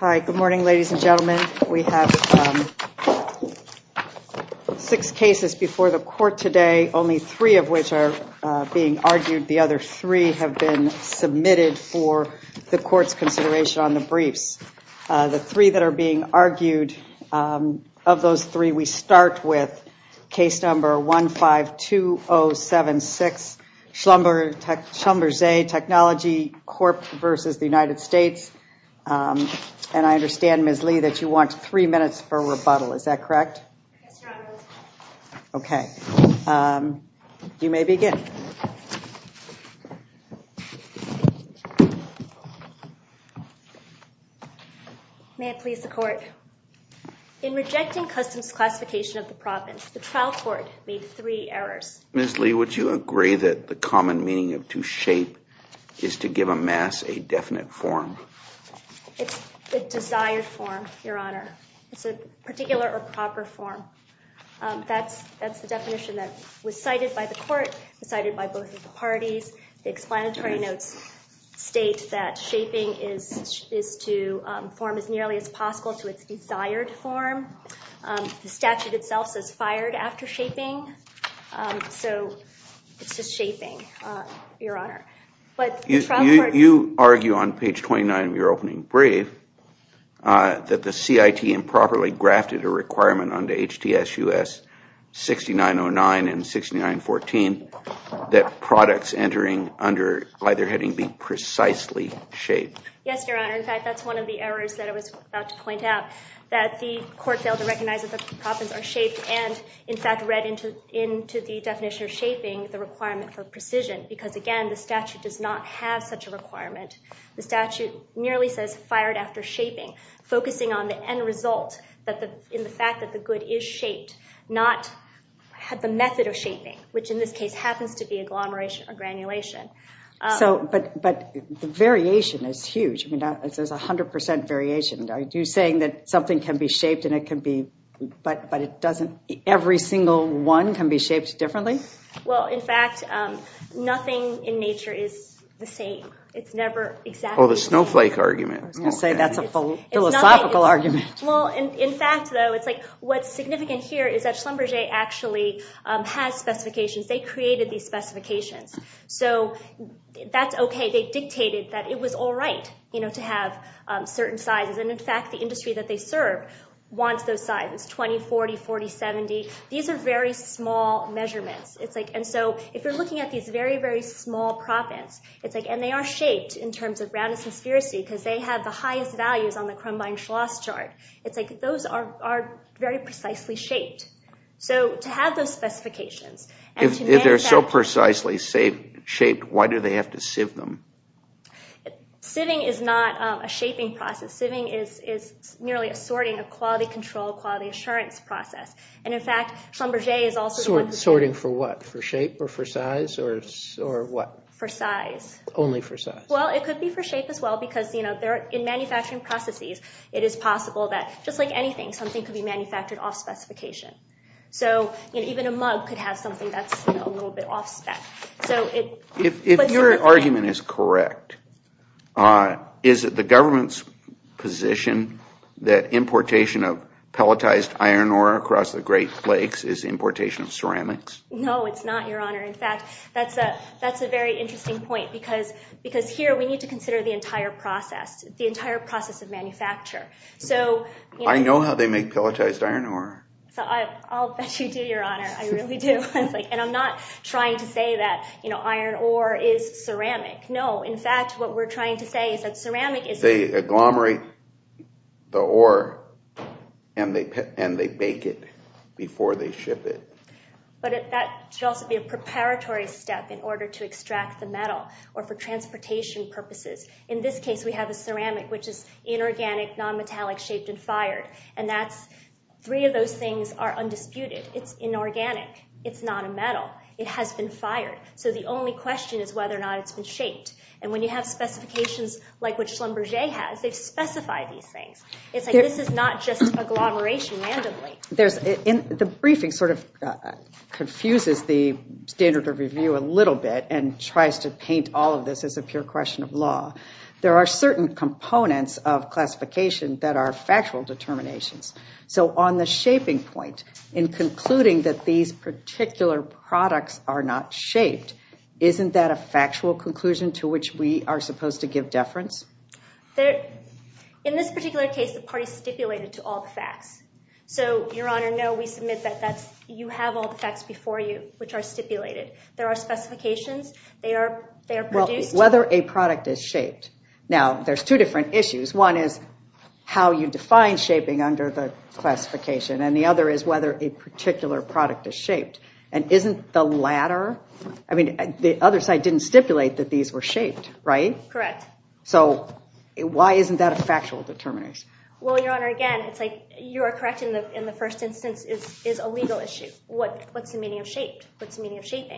Hi, good morning ladies and gentlemen. We have six cases before the court today, only three of which are being argued. The other three have been submitted for the court's consideration on the briefs. The three that are being argued, of those three, we start with case number 152076 Schlumberger Technology Corp. v. United States, and I understand, Ms. Lee, that you want three minutes for rebuttal, is that correct? Okay, you may begin. May it please the court. In rejecting customs classification of the province, the trial court made three errors. Ms. Lee, would you agree that the common meaning of to shape is to give a mass a definite form? It's the desired form, Your Honor. It's a particular or proper form. That's the definition that was cited by the court, cited by both of the parties. The explanatory notes state that shaping is to form as nearly as possible to its desired form. The statute itself says fired after shaping, so it's just shaping, Your Honor. You argue on page 29 of your opening brief that the CIT improperly grafted a requirement under HTS US 6909 and 6914 that products entering under either heading be precisely shaped. Yes, Your Honor. In fact, that's one of the errors that I was about to point out, that the court failed to recognize that the province are shaped and, in fact, read into the definition of shaping the requirement for precision, because, again, the statute does not have such a requirement. The statute nearly says fired after shaping, focusing on the end result in the fact that the good is shaped, not had the method of shaping, which in this case happens to be agglomeration or granulation. But the variation is 100% variation. Are you saying that something can be shaped and it can be, but it doesn't, every single one can be shaped differently? Well, in fact, nothing in nature is the same. It's never exactly... Oh, the snowflake argument. I was going to say that's a philosophical argument. Well, in fact, though, it's like what's significant here is that Schlumberger actually has specifications. They created these specifications, so that's okay. They dictated that it was all right, you know, to have certain sizes, and, in fact, the industry that they serve wants those sizes, 20, 40, 40, 70. These are very small measurements. It's like, and so if you're looking at these very, very small province, it's like, and they are shaped in terms of Radisson sphericity, because they have the highest values on the Crumbine-Schloss chart. It's like those are very precisely shaped. So to have those specifications... If they're so precisely shaped, why do they have to sieve them? Sieving is not a shaping process. Sieving is nearly a sorting, a quality control, quality assurance process, and, in fact, Schlumberger is also... Sorting for what? For shape, or for size, or what? For size. Only for size. Well, it could be for shape as well, because, you know, in manufacturing processes, it is possible that, just like anything, something could be manufactured off-specification. So even a mug could have something that's a little bit off-spec. So it... If your argument is correct, is it the government's position that importation of pelletized iron ore across the Great Lakes is importation of ceramics? No, it's not, Your Honor. In fact, that's a very interesting point, because here we need to consider the entire process, the entire process of manufacture. So... I know how they make pelletized iron ore. I'll bet you do, Your Honor. I really do. And I'm not trying to say that, you know, iron ore is ceramic. No. In fact, what we're trying to say is that ceramic is... They agglomerate the ore, and they bake it before they ship it. But that should also be a preparatory step in order to extract the metal, or for transportation purposes. In this case, we have a ceramic, which is inorganic, non-metallic, shaped, and fired. And that's... Three of those things are undisputed. It's inorganic. It's not a metal. It has been fired. So the only question is whether or not it's been shaped. And when you have specifications like what Schlumberger has, they've specified these things. It's like, this is not just agglomeration randomly. There's... The briefing sort of confuses the standard of review a little bit, and tries to paint all of this as a pure question of law. There are certain components of classification that are factual determinations. So on the shaping point, in concluding that these particular products are not shaped, isn't that a factual conclusion to which we are supposed to give deference? There... In this particular case, the party stipulated to all the facts. So, Your Honor, no, we submit that that's... You have all the facts before you, which are stipulated. There are specifications. They are produced. Whether a product is shaped. Now, there's two different issues. One is how you define shaping under the classification, and the other is whether a particular product is shaped. And isn't the latter... I mean, the other side didn't stipulate that these were shaped, right? Correct. So why isn't that a factual determination? Well, Your Honor, again, it's like, you're correct in the first instance is a legal issue. What's the meaning of shaped? What's the meaning of shaped?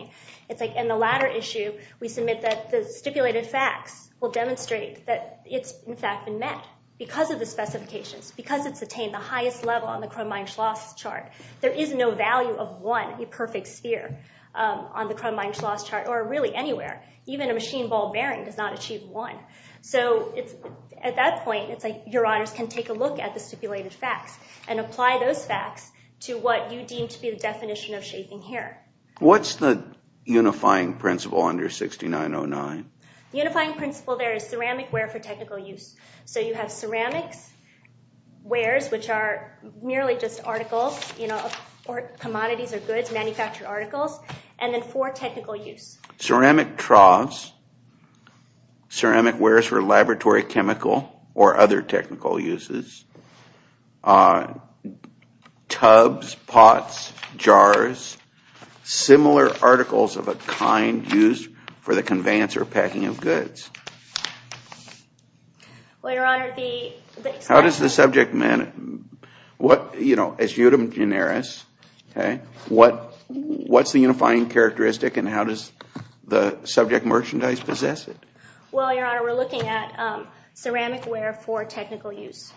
We submit that the stipulated facts will demonstrate that it's, in fact, been met because of the specifications, because it's attained the highest level on the Crumb-Mein-Schloss chart. There is no value of one imperfect sphere on the Crumb-Mein-Schloss chart, or really anywhere. Even a machine ball bearing does not achieve one. So it's... At that point, it's like, Your Honors can take a look at the stipulated facts and apply those facts to what you deem to be the Unifying principle there is ceramic ware for technical use. So you have ceramics, wares, which are merely just articles, you know, or commodities or goods, manufactured articles, and then for technical use. Ceramic troughs, ceramic wares for laboratory chemical or other technical uses, tubs, pots, jars, similar articles of a kind used for the conveyance or packing of goods. Well, Your Honor, the... How does the subject matter? What, you know, as eudem generis, okay, what what's the unifying characteristic and how does the subject merchandise possess it? Well, Your Honor, we're looking at ceramic ware for technical use.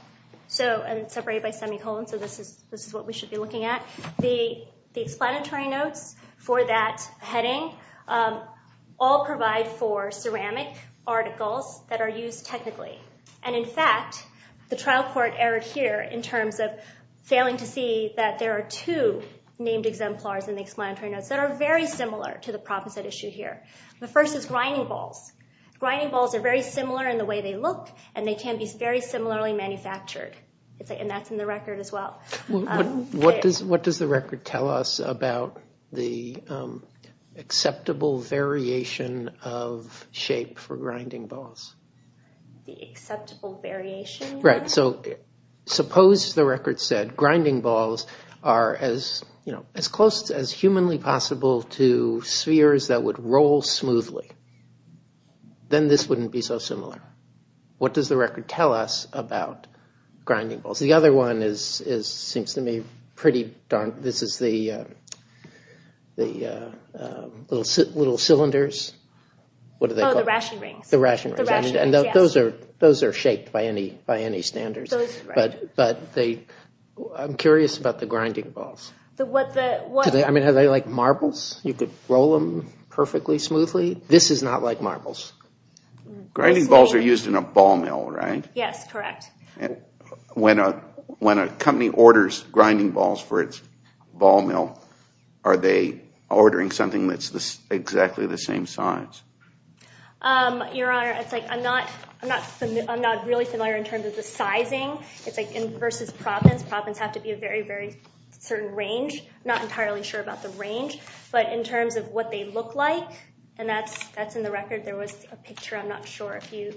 So, and separated by semicolon, so this is this is what we should be looking at. The heading, all provide for ceramic articles that are used technically. And in fact, the trial court erred here in terms of failing to see that there are two named exemplars in the explanatory notes that are very similar to the problems that are issued here. The first is grinding balls. Grinding balls are very similar in the way they look and they can be very similarly manufactured. It's like, and that's in the record as well. What does the record tell us about the acceptable variation of shape for grinding balls? The acceptable variation? Right, so suppose the record said grinding balls are as, you know, as close as humanly possible to spheres that would roll smoothly. Then this wouldn't be so similar. What does the record tell us about grinding balls? The other one is, seems to me, pretty darn, this is the the little cylinders. What are they called? Oh, the ration rings. The ration rings. And those are those are shaped by any standards. But they, I'm curious about the grinding balls. I mean, are they like marbles? You could roll them perfectly smoothly. This is not like marbles. Grinding balls are used in a ball mill, right? Yes, correct. When a company orders grinding balls for its ball mill, are they ordering something that's exactly the same size? Your Honor, it's like, I'm not, I'm not, I'm not really familiar in terms of the sizing. It's like in versus province. Province have to be a very, very certain range. Not entirely sure about the range. But in terms of what they look like, and that's, that's in the record. There was a picture, I'm not sure if you,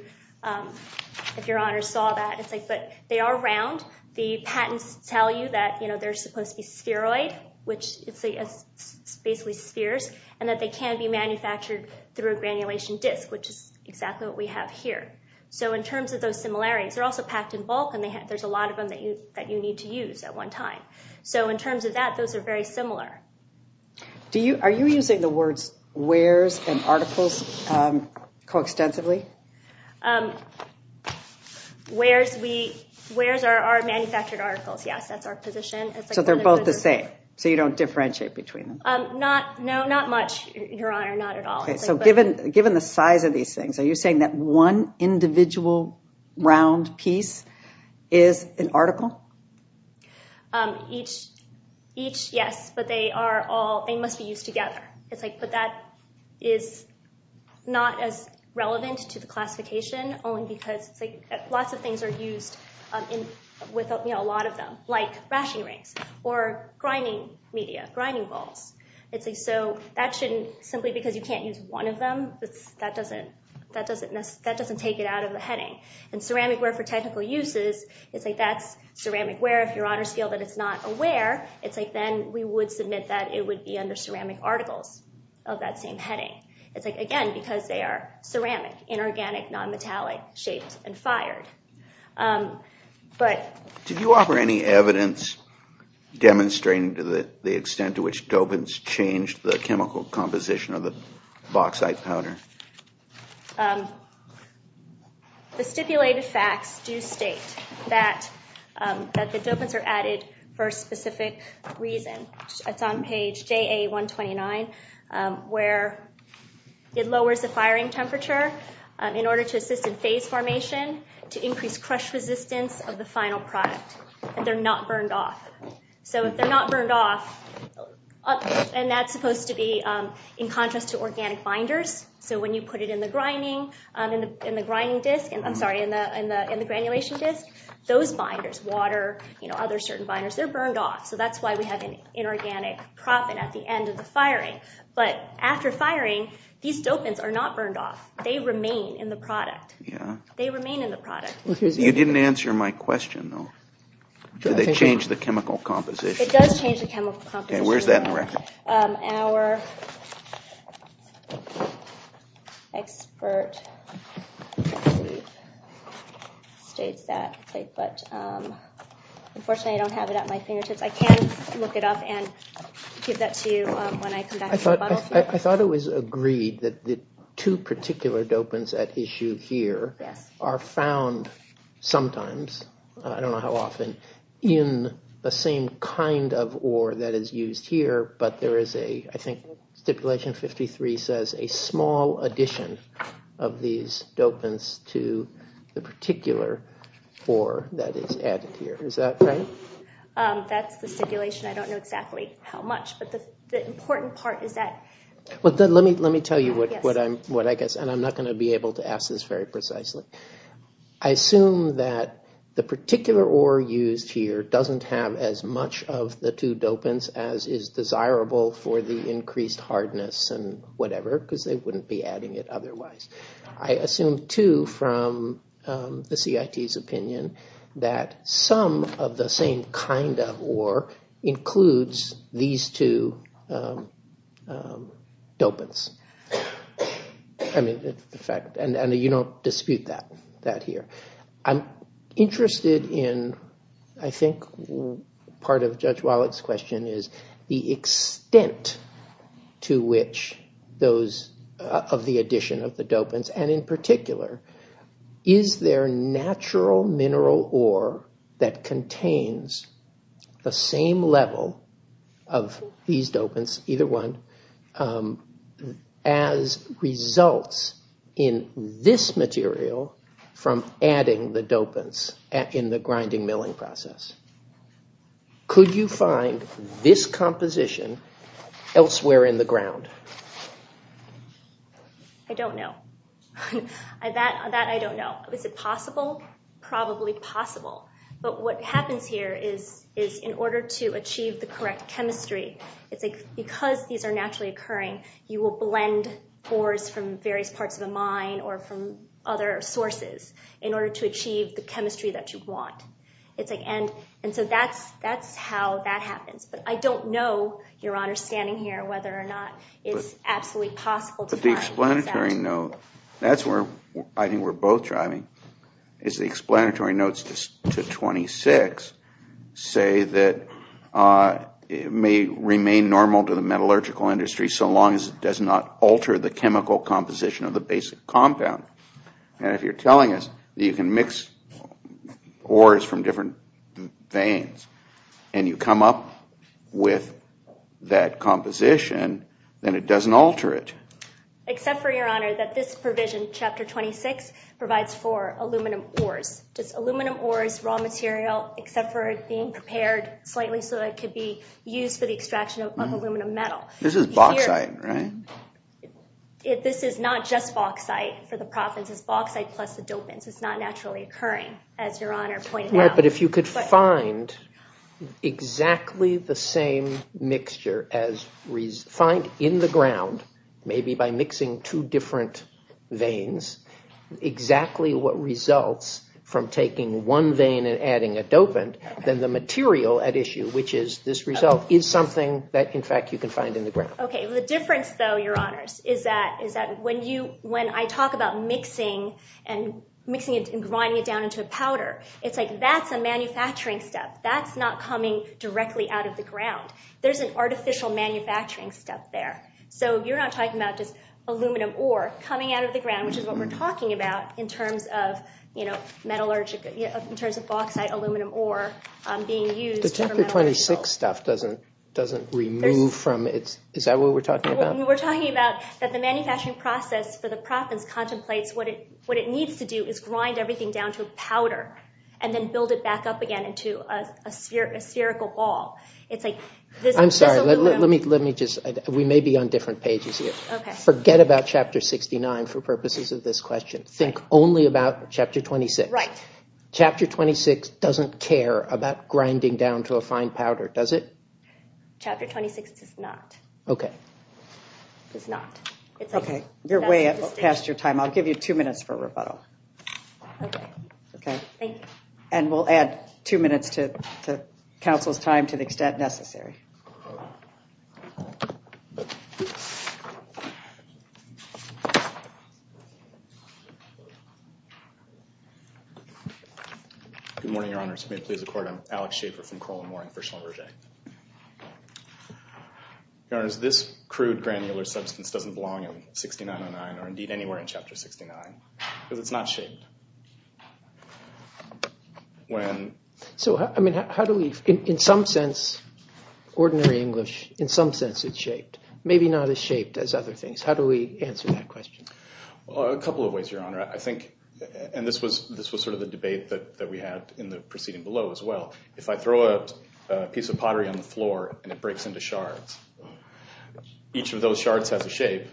if Your Honor saw that. It's like, but they are round. The patents tell you that, you know, they're supposed to be spheroid, which it's basically spheres, and that they can be manufactured through a granulation disk, which is exactly what we have here. So in terms of those similarities, they're also packed in bulk, and they have, there's a lot of them that you, that you need to use at one time. So in terms of that, those are very similar. Do you, are you using the words wares and articles co-extensively? Wares, we, wares are our manufactured articles. Yes, that's our position. So they're both the same, so you don't differentiate between them? Not, no, not much, Your Honor, not at all. Okay, so given, given the size of these things, are you saying that one individual round piece is an article? Each, each, yes, but they are all, they must be used together. It's like, but that is not as relevant to the classification, only because it's like lots of things are them, like rashing rings, or grinding media, grinding balls. It's like, so that shouldn't, simply because you can't use one of them, that's, that doesn't, that doesn't, that doesn't take it out of the heading. And ceramic ware for technical uses, it's like, that's ceramic ware. If Your Honors feel that it's not a ware, it's like, then we would submit that it would be under ceramic articles of that same heading. It's like, again, because they are ceramic, inorganic, nonmetallic, shaped, and fired. But... Did you offer any evidence demonstrating to the extent to which dopants changed the chemical composition of the bauxite powder? The stipulated facts do state that, that the dopants are added for a specific reason. It's on page JA 129, where it lowers the firing temperature in order to assist in phase formation, to increase crush resistance of the final product. And they're not burned off. So if they're not burned off, and that's supposed to be in contrast to organic binders, so when you put it in the grinding, in the grinding disk, and I'm sorry, in the, in the, in the granulation disk, those binders, water, you know, other certain binders, they're burned off. So that's why we have an inorganic proponent at the end of the firing. But after firing, these dopants are not burned off. They remain in the product. Yeah. They remain in the product. You didn't answer my question, though. Do they change the chemical composition? It does change the chemical composition. Okay, where's that in the record? Our expert states that, but unfortunately I don't have it at my fingertips. I can look it up and give that to you when I come back. I thought it was agreed that the two particular dopants at issue here are found sometimes, I don't know how often, in the same kind of ore that is used here, but there is a, I think stipulation 53 says, a small addition of these dopants to the particular ore that is added here. Is that right? That's the stipulation. I don't know exactly how much, but the important part is that. Well, then let me tell you what I guess, and I'm not going to be able to ask this very precisely. I assume that the particular ore used here doesn't have as much of the two dopants as is desirable for the increased hardness and whatever, because they wouldn't be adding it otherwise. I assume, too, from the CIT's opinion, that some of the same kind of ore includes these two dopants. I mean, in fact, and you don't dispute that here. I'm interested in, I think, part of Judge Wallet's question is the extent to which those of the addition of the dopants, and in the same level of these dopants, either one, as results in this material from adding the dopants in the grinding milling process. Could you find this composition elsewhere in the ground? I don't know. That I don't know. Is it in order to achieve the correct chemistry? It's like, because these are naturally occurring, you will blend ores from various parts of a mine or from other sources in order to achieve the chemistry that you want. It's like, and, and so that's, that's how that happens, but I don't know, Your Honor, standing here, whether or not it's absolutely possible. But the explanatory note, that's where I think we're both driving, is the explanatory notes to 26 say that it may remain normal to the metallurgical industry so long as it does not alter the chemical composition of the basic compound. And if you're telling us you can mix ores from different veins and you come up with that composition, then it doesn't alter it. Except for, Your Honor, that this provision, Chapter 26, provides for aluminum ores. Just aluminum ores, raw material, except for it being prepared slightly so that it could be used for the extraction of aluminum metal. This is bauxite, right? This is not just bauxite for the province. It's bauxite plus the dopants. It's not naturally occurring, as Your Honor pointed out. But if you could find exactly the same mixture as, find in the ground, maybe by mixing two different veins, exactly what results from taking one vein and adding a dopant, then the material at issue, which is this result, is something that in fact you can find in the ground. Okay, the difference though, Your Honors, is that, is that when you, when I talk about mixing and mixing it and grinding it down into a powder, it's like that's a manufacturing step. That's not coming directly out of the ground. There's an artificial manufacturing step there. So you're not talking about just aluminum ore coming out of the ground, which is what we're talking about in terms of, you know, metallurgical, in terms of bauxite aluminum ore being used. The Chapter 26 stuff doesn't, doesn't remove from its, is that what we're talking about? We're talking about that the manufacturing process for the province contemplates what it, what it needs to do is grind everything down to a powder and then build it back up again into a spherical ball. It's like this. I'm sorry, let me, let me just, we may be on different pages here. Okay. Forget about Chapter 69 for purposes of this question. Think only about Chapter 26. Right. Chapter 26 doesn't care about grinding down to a fine powder, does it? Chapter 26 does not. Okay. It's not. Okay, you're way past your time. I'll give you two minutes for a rebuttal. Okay. Thank you. And we'll add two minutes to the council's time to the extent necessary. Good morning, Your Honors. May it please the Court, I'm Alex Shaffer from Coral and Warren for Shull and Berger. Your Honors, this crude granular substance doesn't belong in 6909 or indeed anywhere in Chapter 69 because it's not shaped. When... So, I mean, how do we, in some sense, ordinary English, in some sense it's shaped. Maybe not as shaped as other things. How do we answer that question? Well, a couple of ways, Your Honor. I think, and this was, this was sort of the debate that we had in the proceeding below as well. If I throw a piece of pottery on the floor and it breaks into shards, each of those shards has a shape.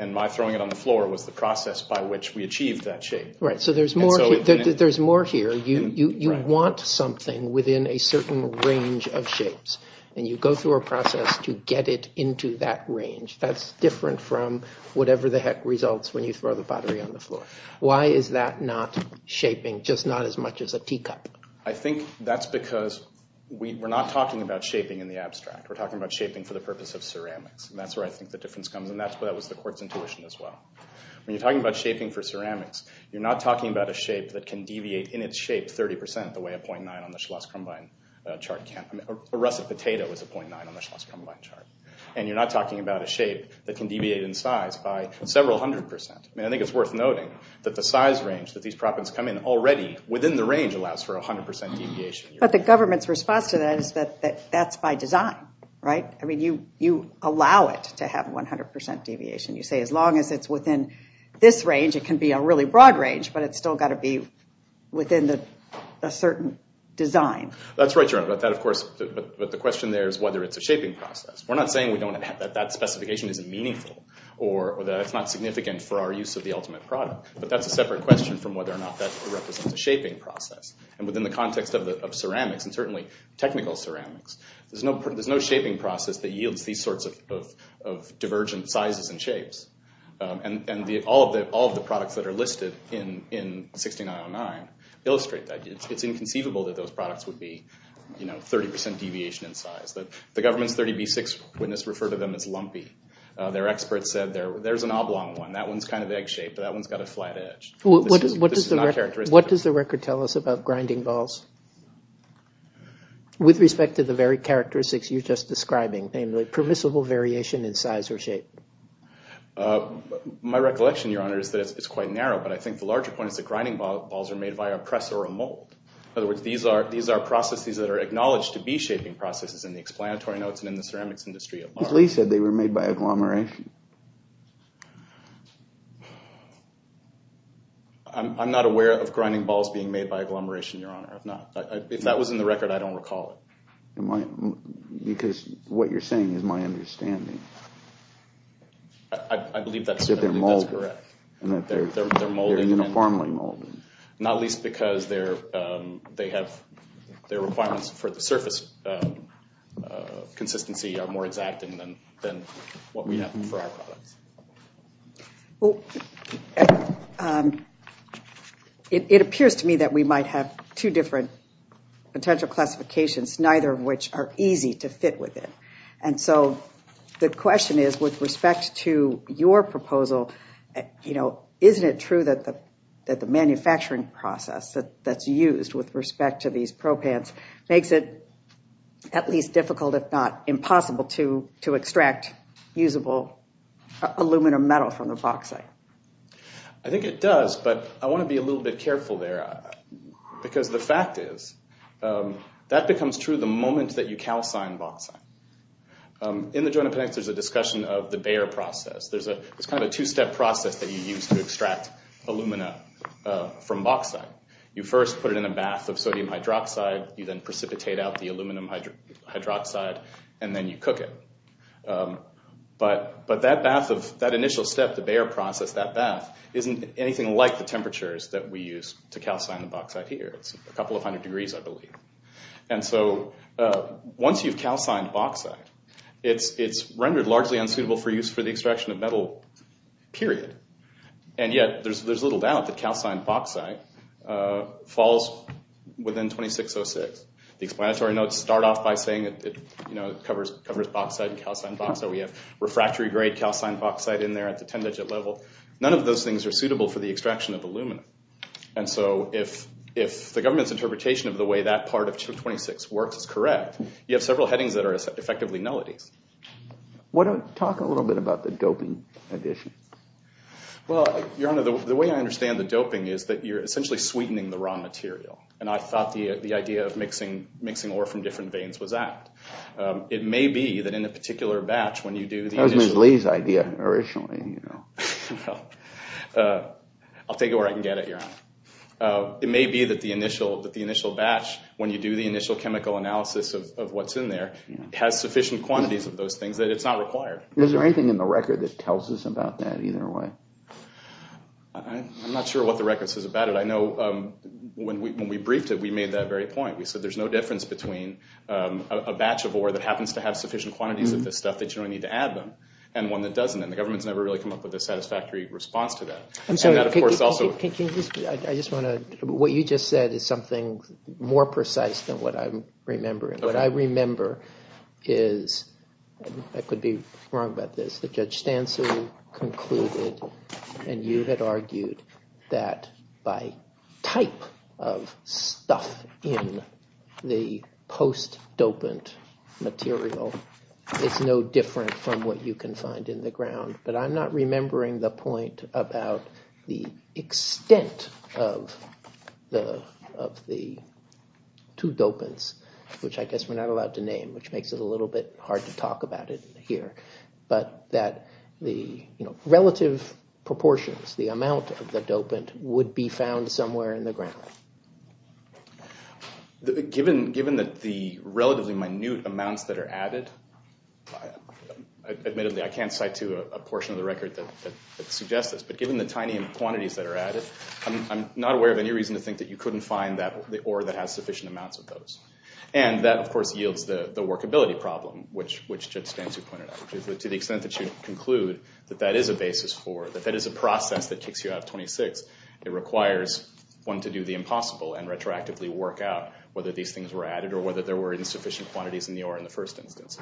And my throwing it on the floor was the process by which we achieved that shape. Right, so there's more, there's more here. You want something within a certain range of shapes and you go through a process to get it into that range. That's different from whatever the heck results when you throw the pottery on the floor. Why is that not shaping just not as much as a teacup? I think that's because we're not talking about shaping in the abstract. We're talking about shaping for the purpose of ceramics and that's where I think the that was the court's intuition as well. When you're talking about shaping for ceramics, you're not talking about a shape that can deviate in its shape 30% the way a .9 on the Schloss Krumbein chart can. A russet potato is a .9 on the Schloss Krumbein chart. And you're not talking about a shape that can deviate in size by several hundred percent. I mean, I think it's worth noting that the size range that these propens come in already, within the range, allows for a hundred percent deviation. But the government's response to that is that that's by design, right? I mean, you allow it to have 100% deviation. You say as long as it's within this range, it can be a really broad range, but it's still got to be within a certain design. That's right, Joan, about that, of course. But the question there is whether it's a shaping process. We're not saying we don't have that. That specification isn't meaningful or that it's not significant for our use of the ultimate product. But that's a separate question from whether or not that represents a shaping process. And within the context of ceramics, and there's no shaping process that yields these sorts of divergent sizes and shapes. And all of the products that are listed in 6909 illustrate that. It's inconceivable that those products would be, you know, 30% deviation in size. The government's 30B6 witness referred to them as lumpy. Their experts said there's an oblong one. That one's kind of egg-shaped, but that one's got a flat edge. This is not characteristic. What does the record tell us about characteristics you're just describing, namely permissible variation in size or shape? My recollection, Your Honor, is that it's quite narrow. But I think the larger point is that grinding balls are made by a press or a mold. In other words, these are processes that are acknowledged to be shaping processes in the explanatory notes and in the ceramics industry. Lee said they were made by agglomeration. I'm not aware of grinding balls being made by agglomeration. I don't recall it. Because what you're saying is my understanding. I believe that's correct. They're molded. They're uniformly molded. Not least because their requirements for the surface consistency are more exact than what we have for our products. It appears to me that we might have two different potential classifications, neither of which are easy to fit within. And so the question is, with respect to your proposal, isn't it true that the manufacturing process that's used with respect to these propans makes it at least difficult, if not impossible, to extract usable aluminum metal from the bauxite? I think it does, but I want to be a little bit careful there, because the fact is, that becomes true the moment that you calcine bauxite. In the Joint Appendix, there's a discussion of the Baeyer process. It's kind of a two-step process that you use to extract alumina from bauxite. You first put it in a bath of sodium hydroxide. You then precipitate out the aluminum hydroxide, and then you cook it. But that initial step, the Baeyer process, that bath, isn't anything like the temperatures that we use to calcine the bauxite here. It's a couple of hundred degrees, I believe. Once you've calcined bauxite, it's rendered largely unsuitable for use for the extraction of metal, period. And yet, there's little doubt that calcined bauxite falls within 2606. The explanatory notes start off by saying it covers bauxite and calcined bauxite. We have refractory-grade calcined bauxite in there at the 10-digit level. None of those things are suitable for the extraction of aluminum. And so if the government's interpretation of the way that part of 226 works is correct, you have several headings that are effectively nullities. Talk a little bit about the doping addition. Well, Your Honor, the way I understand the doping is that you're essentially sweetening the wrong material. And I thought the idea of mixing ore from different veins was apt. It may be that in a particular batch, when you do the addition... I'll take it where I can get it, Your Honor. It may be that the initial batch, when you do the initial chemical analysis of what's in there, has sufficient quantities of those things that it's not required. Is there anything in the record that tells us about that, either way? I'm not sure what the record says about it. I know when we briefed it, we made that very point. We said there's no difference between a batch of ore that happens to have sufficient quantities of this stuff that you don't need to add them, and one that doesn't. And the government's never really come up with a satisfactory response to that. I'm sorry. Can you just... I just want to... What you just said is something more precise than what I'm remembering. What I remember is... I could be wrong about this, but Judge Stansel concluded, and you had argued, that by type of stuff in the post-dopant material, it's no different from what you can find in the ground. But I'm not remembering the point about the extent of the two dopants, which I guess we're not allowed to name, which makes it a little bit hard to talk about it here. But that the relative proportions, the amount of the dopant, would be found somewhere in the ground. Given that the relatively minute amounts that are added, admittedly I can't cite to a portion of the record that suggests this, but given the tiny quantities that are added, I'm not aware of any reason to think that you couldn't find the ore that has sufficient amounts of those. And that, of course, yields the workability problem, which Judge Stansel pointed out. To the extent that you conclude that that is a basis for, that that is a process that kicks you out of 26, it requires one to do the impossible and retroactively work out whether these things were added or whether there were insufficient quantities in the ore in the first instance.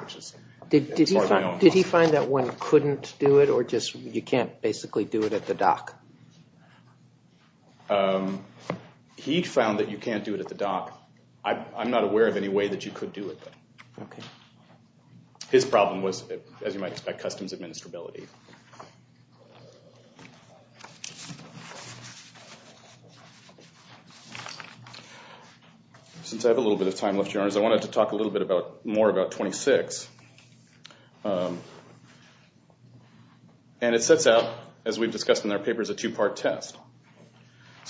Did he find that one couldn't do it, or just you can't basically do it at the dock? He found that you can't do it at the dock. I'm not aware of any way that you could do it. His problem was, as you might expect, customs administrability. Since I have a little bit of time left, Your Honors, I wanted to talk a little bit more about 26. And it sets out, as we've discussed in our papers, a two-part test. It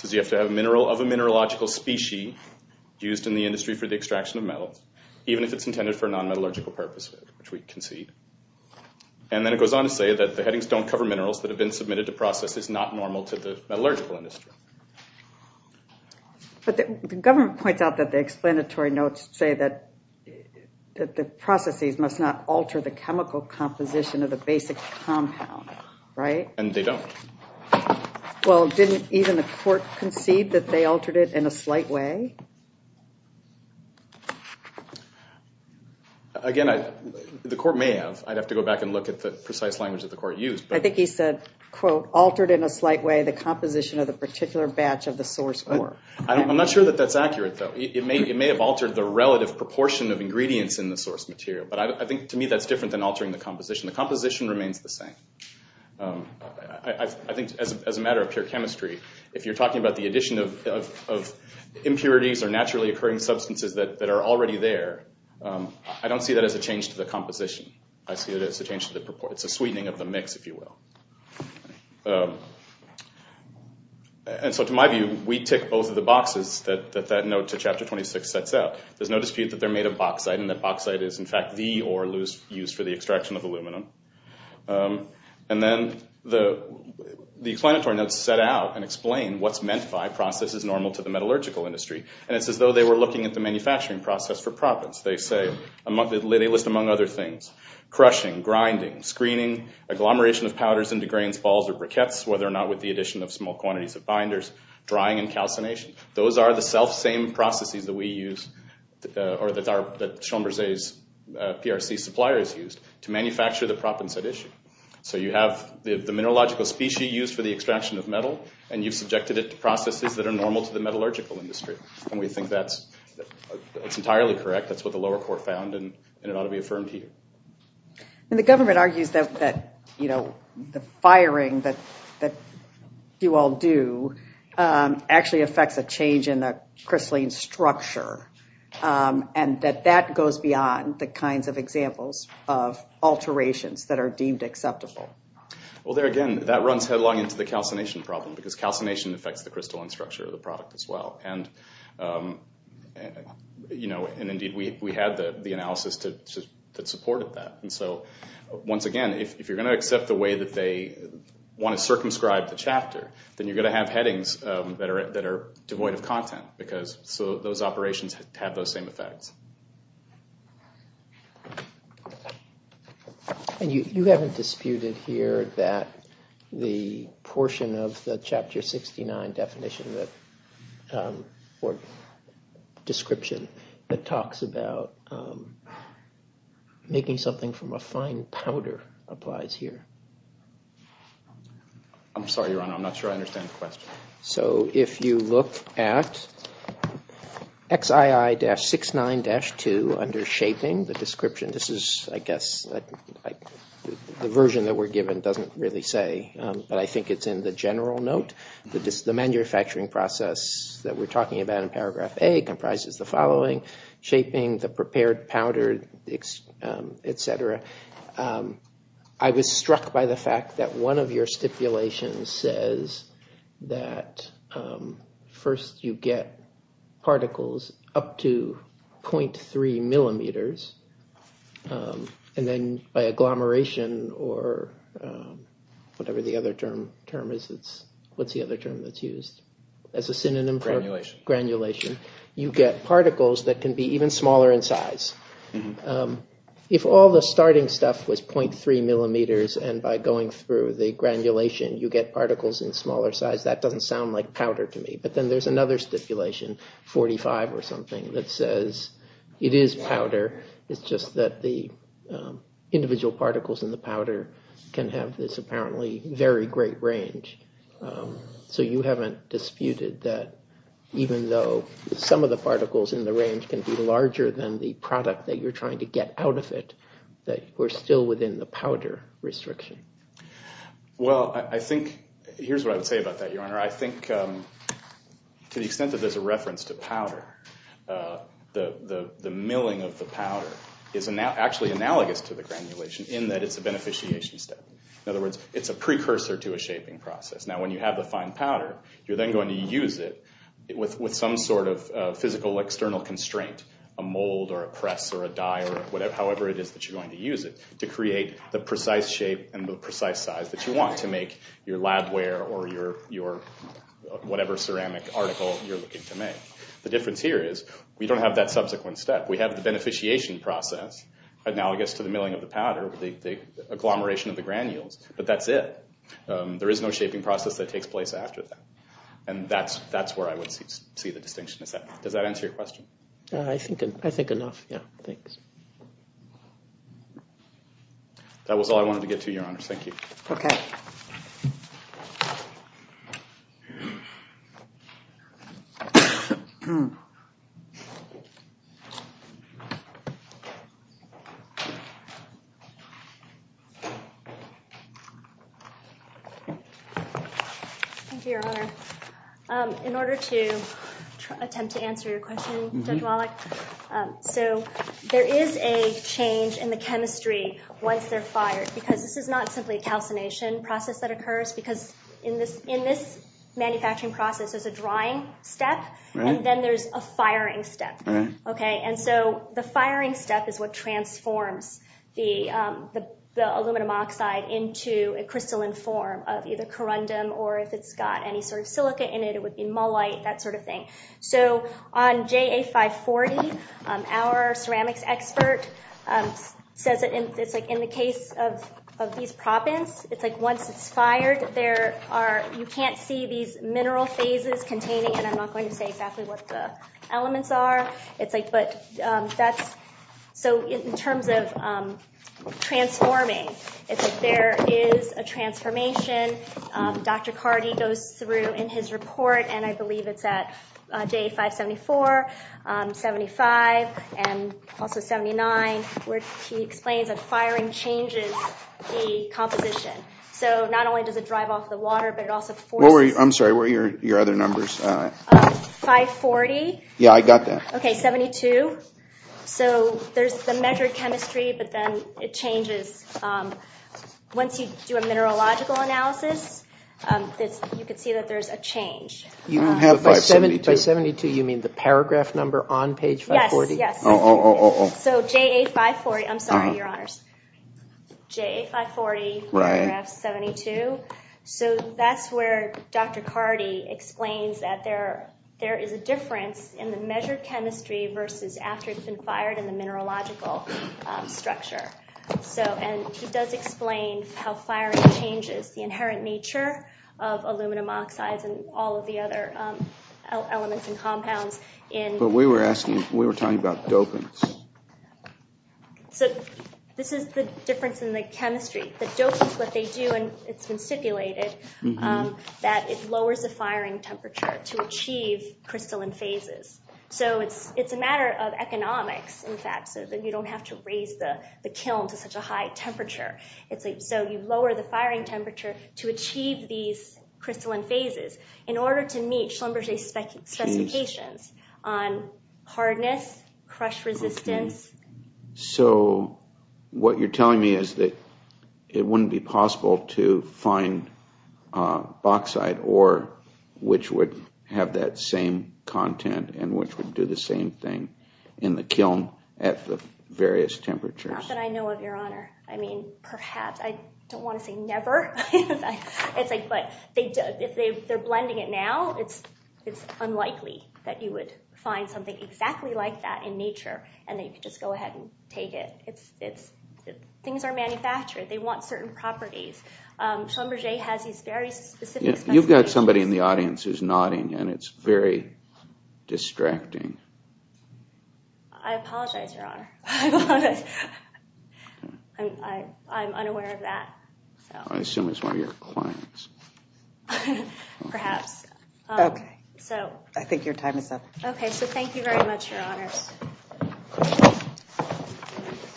says you have to have a mineral of a mineralogical species used in the industry for the extraction of metal, even if it's intended for a non-metallurgical purpose, which we concede. And then it goes on to say that the headings don't cover minerals that normal to the metallurgical industry. But the government points out that the explanatory notes say that the processes must not alter the chemical composition of the basic compound, right? And they don't. Well, didn't even the court concede that they altered it in a slight way? Again, the court may have. I'd have to go back and look at the precise language that the court used. I think he said, quote, altered in a slight way the composition of the particular batch of the source ore. I'm not sure that that's accurate, though. It may have altered the relative proportion of ingredients in the source material. But I think, to me, that's different than altering the composition. The composition remains the same. I think, as a matter of pure chemistry, if you're talking about the addition of impurities or naturally occurring substances that are already there, I don't see that as a change to the composition. I see it as a change to the sweetening of the mix, if you will. And so, to my view, we tick both of the boxes that that note to chapter 26 sets out. There's no dispute that they're made of bauxite and that bauxite is, in fact, the ore used for the extraction of aluminum. And then the explanatory notes set out and explain what's meant by process is normal to the metallurgical industry. And it's as though they were looking at the manufacturing process for profits. They list, among other things, crushing, grinding, screening, agglomeration of powders into grains, balls, or briquettes, whether or not with the addition of small quantities of binders, drying, and calcination. Those are the self-same processes that we use, or that Chamberzé's PRC suppliers used, to manufacture the propensite issue. So you have the mineralogical species used for the extraction of metal, and you've subjected it to processes that are normal to the metallurgical industry. And we think that's entirely correct. That's what the lower court found, and it ought to be affirmed here. And the government argues that, you know, the firing that you all do actually affects a change in the crystalline structure, and that that goes beyond the kinds of examples of alterations that are deemed acceptable. Well, there again, that runs headlong into the calcination problem, because calcination affects the crystalline structure of the product as well. And, you know, and indeed we had the analysis that supported that. And so, once again, if you're going to accept the way that they want to circumscribe the chapter, then you're going to have headings that are devoid of content, because those operations have those same effects. And you haven't disputed here that the portion of the Chapter 69 definition that, or description, that talks about making something from a fine powder applies here. I'm sorry, Your Honor, I'm not sure I understand the question. So, if you look at XII-69-2 under shaping, the description, this is, I guess, the version that we're given doesn't really say, but I think it's in the general note, the manufacturing process that we're talking about in Paragraph A comprises the following, shaping, the prepared powder, etc. I was struck by the fact that one of your stipulations says that first you get particles up to 0.3 millimeters, and then by agglomeration, or whatever the other term is, what's the other term that's used as a synonym? Granulation. Granulation. You get particles that can be even smaller in size. If all the starting stuff was 0.3 millimeters, and by going through the granulation you get particles in smaller size, that doesn't sound like powder to me. But then there's another stipulation, 45 or something, that says it is powder, it's just that the individual particles in the powder can have this apparently very great range. So, you haven't disputed that even though some of the particles in the range can be larger than the product that you're trying to get out of it, that we're still within the powder restriction? Well, I think, here's what I would say about that, Your Honor. I think to the extent that there's a reference to powder, the milling of the powder is actually analogous to the granulation, in that it's a beneficiation step. In other words, it's a precursor to a shaping process. Now, when you have the fine powder, you're then going to use it with some sort of physical external constraint, a mold, or a press, or a die, or however it is that you're going to use it, to create the precise shape and the precise size that you want to make your lab ware, or whatever ceramic article you're looking to make. The difference here is, we don't have that subsequent step. We have the beneficiation process, analogous to the milling of the powder, the agglomeration of the granules, but that's it. There is no shaping process that takes place after that. And that's where I would see the distinction. Does that answer your question? I think enough, yeah. Thanks. That was all I wanted to get to, Your Honor. Thank you. Okay. Thank you, Your Honor. In order to attempt to answer your question, Judge Wallach, so there is a change in the chemistry once they're fired, because this is not simply a calcination process that occurs, because in this manufacturing process, there's a drying step, and then there's a firing step. And so the firing step is what transforms the aluminum oxide into a crystalline form of either corundum, or if it's got any sort of silica in it, it would be mullite, that sort of thing. So on JA540, our ceramics expert says that in the case of these propens, it's like once it's fired, you can't see these mineral phases containing, and I'm not going to say exactly what the elements are. So in terms of transforming, if there is a transformation, Dr. Carty goes through in his report, and I believe it's at JA574, 75, and also 79, where he explains that firing changes the composition. So not only does it drive off the water, but it also changes the composition. So there's the measured chemistry, but then it changes. Once you do a mineralogical analysis, you can see that there's a change. By 72, you mean the paragraph number on page 540? Yes. So JA540, I'm sorry, your honors. JA540, paragraph 72. So that's where Dr. Carty explains that there is a difference in the measured chemistry versus after it's been fired in the mineralogical structure. And he does explain how firing changes the inherent nature of aluminum oxides and all of the other elements and compounds. But we were asking, we were talking about dopants. So this is the difference in the chemistry. The dopants, what they do, and it's been stipulated, that it lowers the firing temperature to achieve crystalline phases. So it's a matter of economics, in fact, so that you don't have to raise the kiln to such a high temperature. So you lower the firing temperature to achieve these crystalline phases in order to meet Schlumberger's specifications on hardness, crush resistance. So what you're telling me is that it wouldn't be possible to find bauxite ore which would have that same content and which would do the same thing in the kiln at the various temperatures. Not that I know of, your honor. I mean, perhaps. I don't want to say never. But if they're blending it now, it's unlikely that you would find something exactly like that in nature and that you could just go ahead and manufacture it. They want certain properties. Schlumberger has these very specific specifications. You've got somebody in the audience who's nodding and it's very distracting. I apologize, your honor. I'm unaware of that. I assume it's one of your clients. Perhaps. I think your time is up. Okay, so thank you very much, your honors.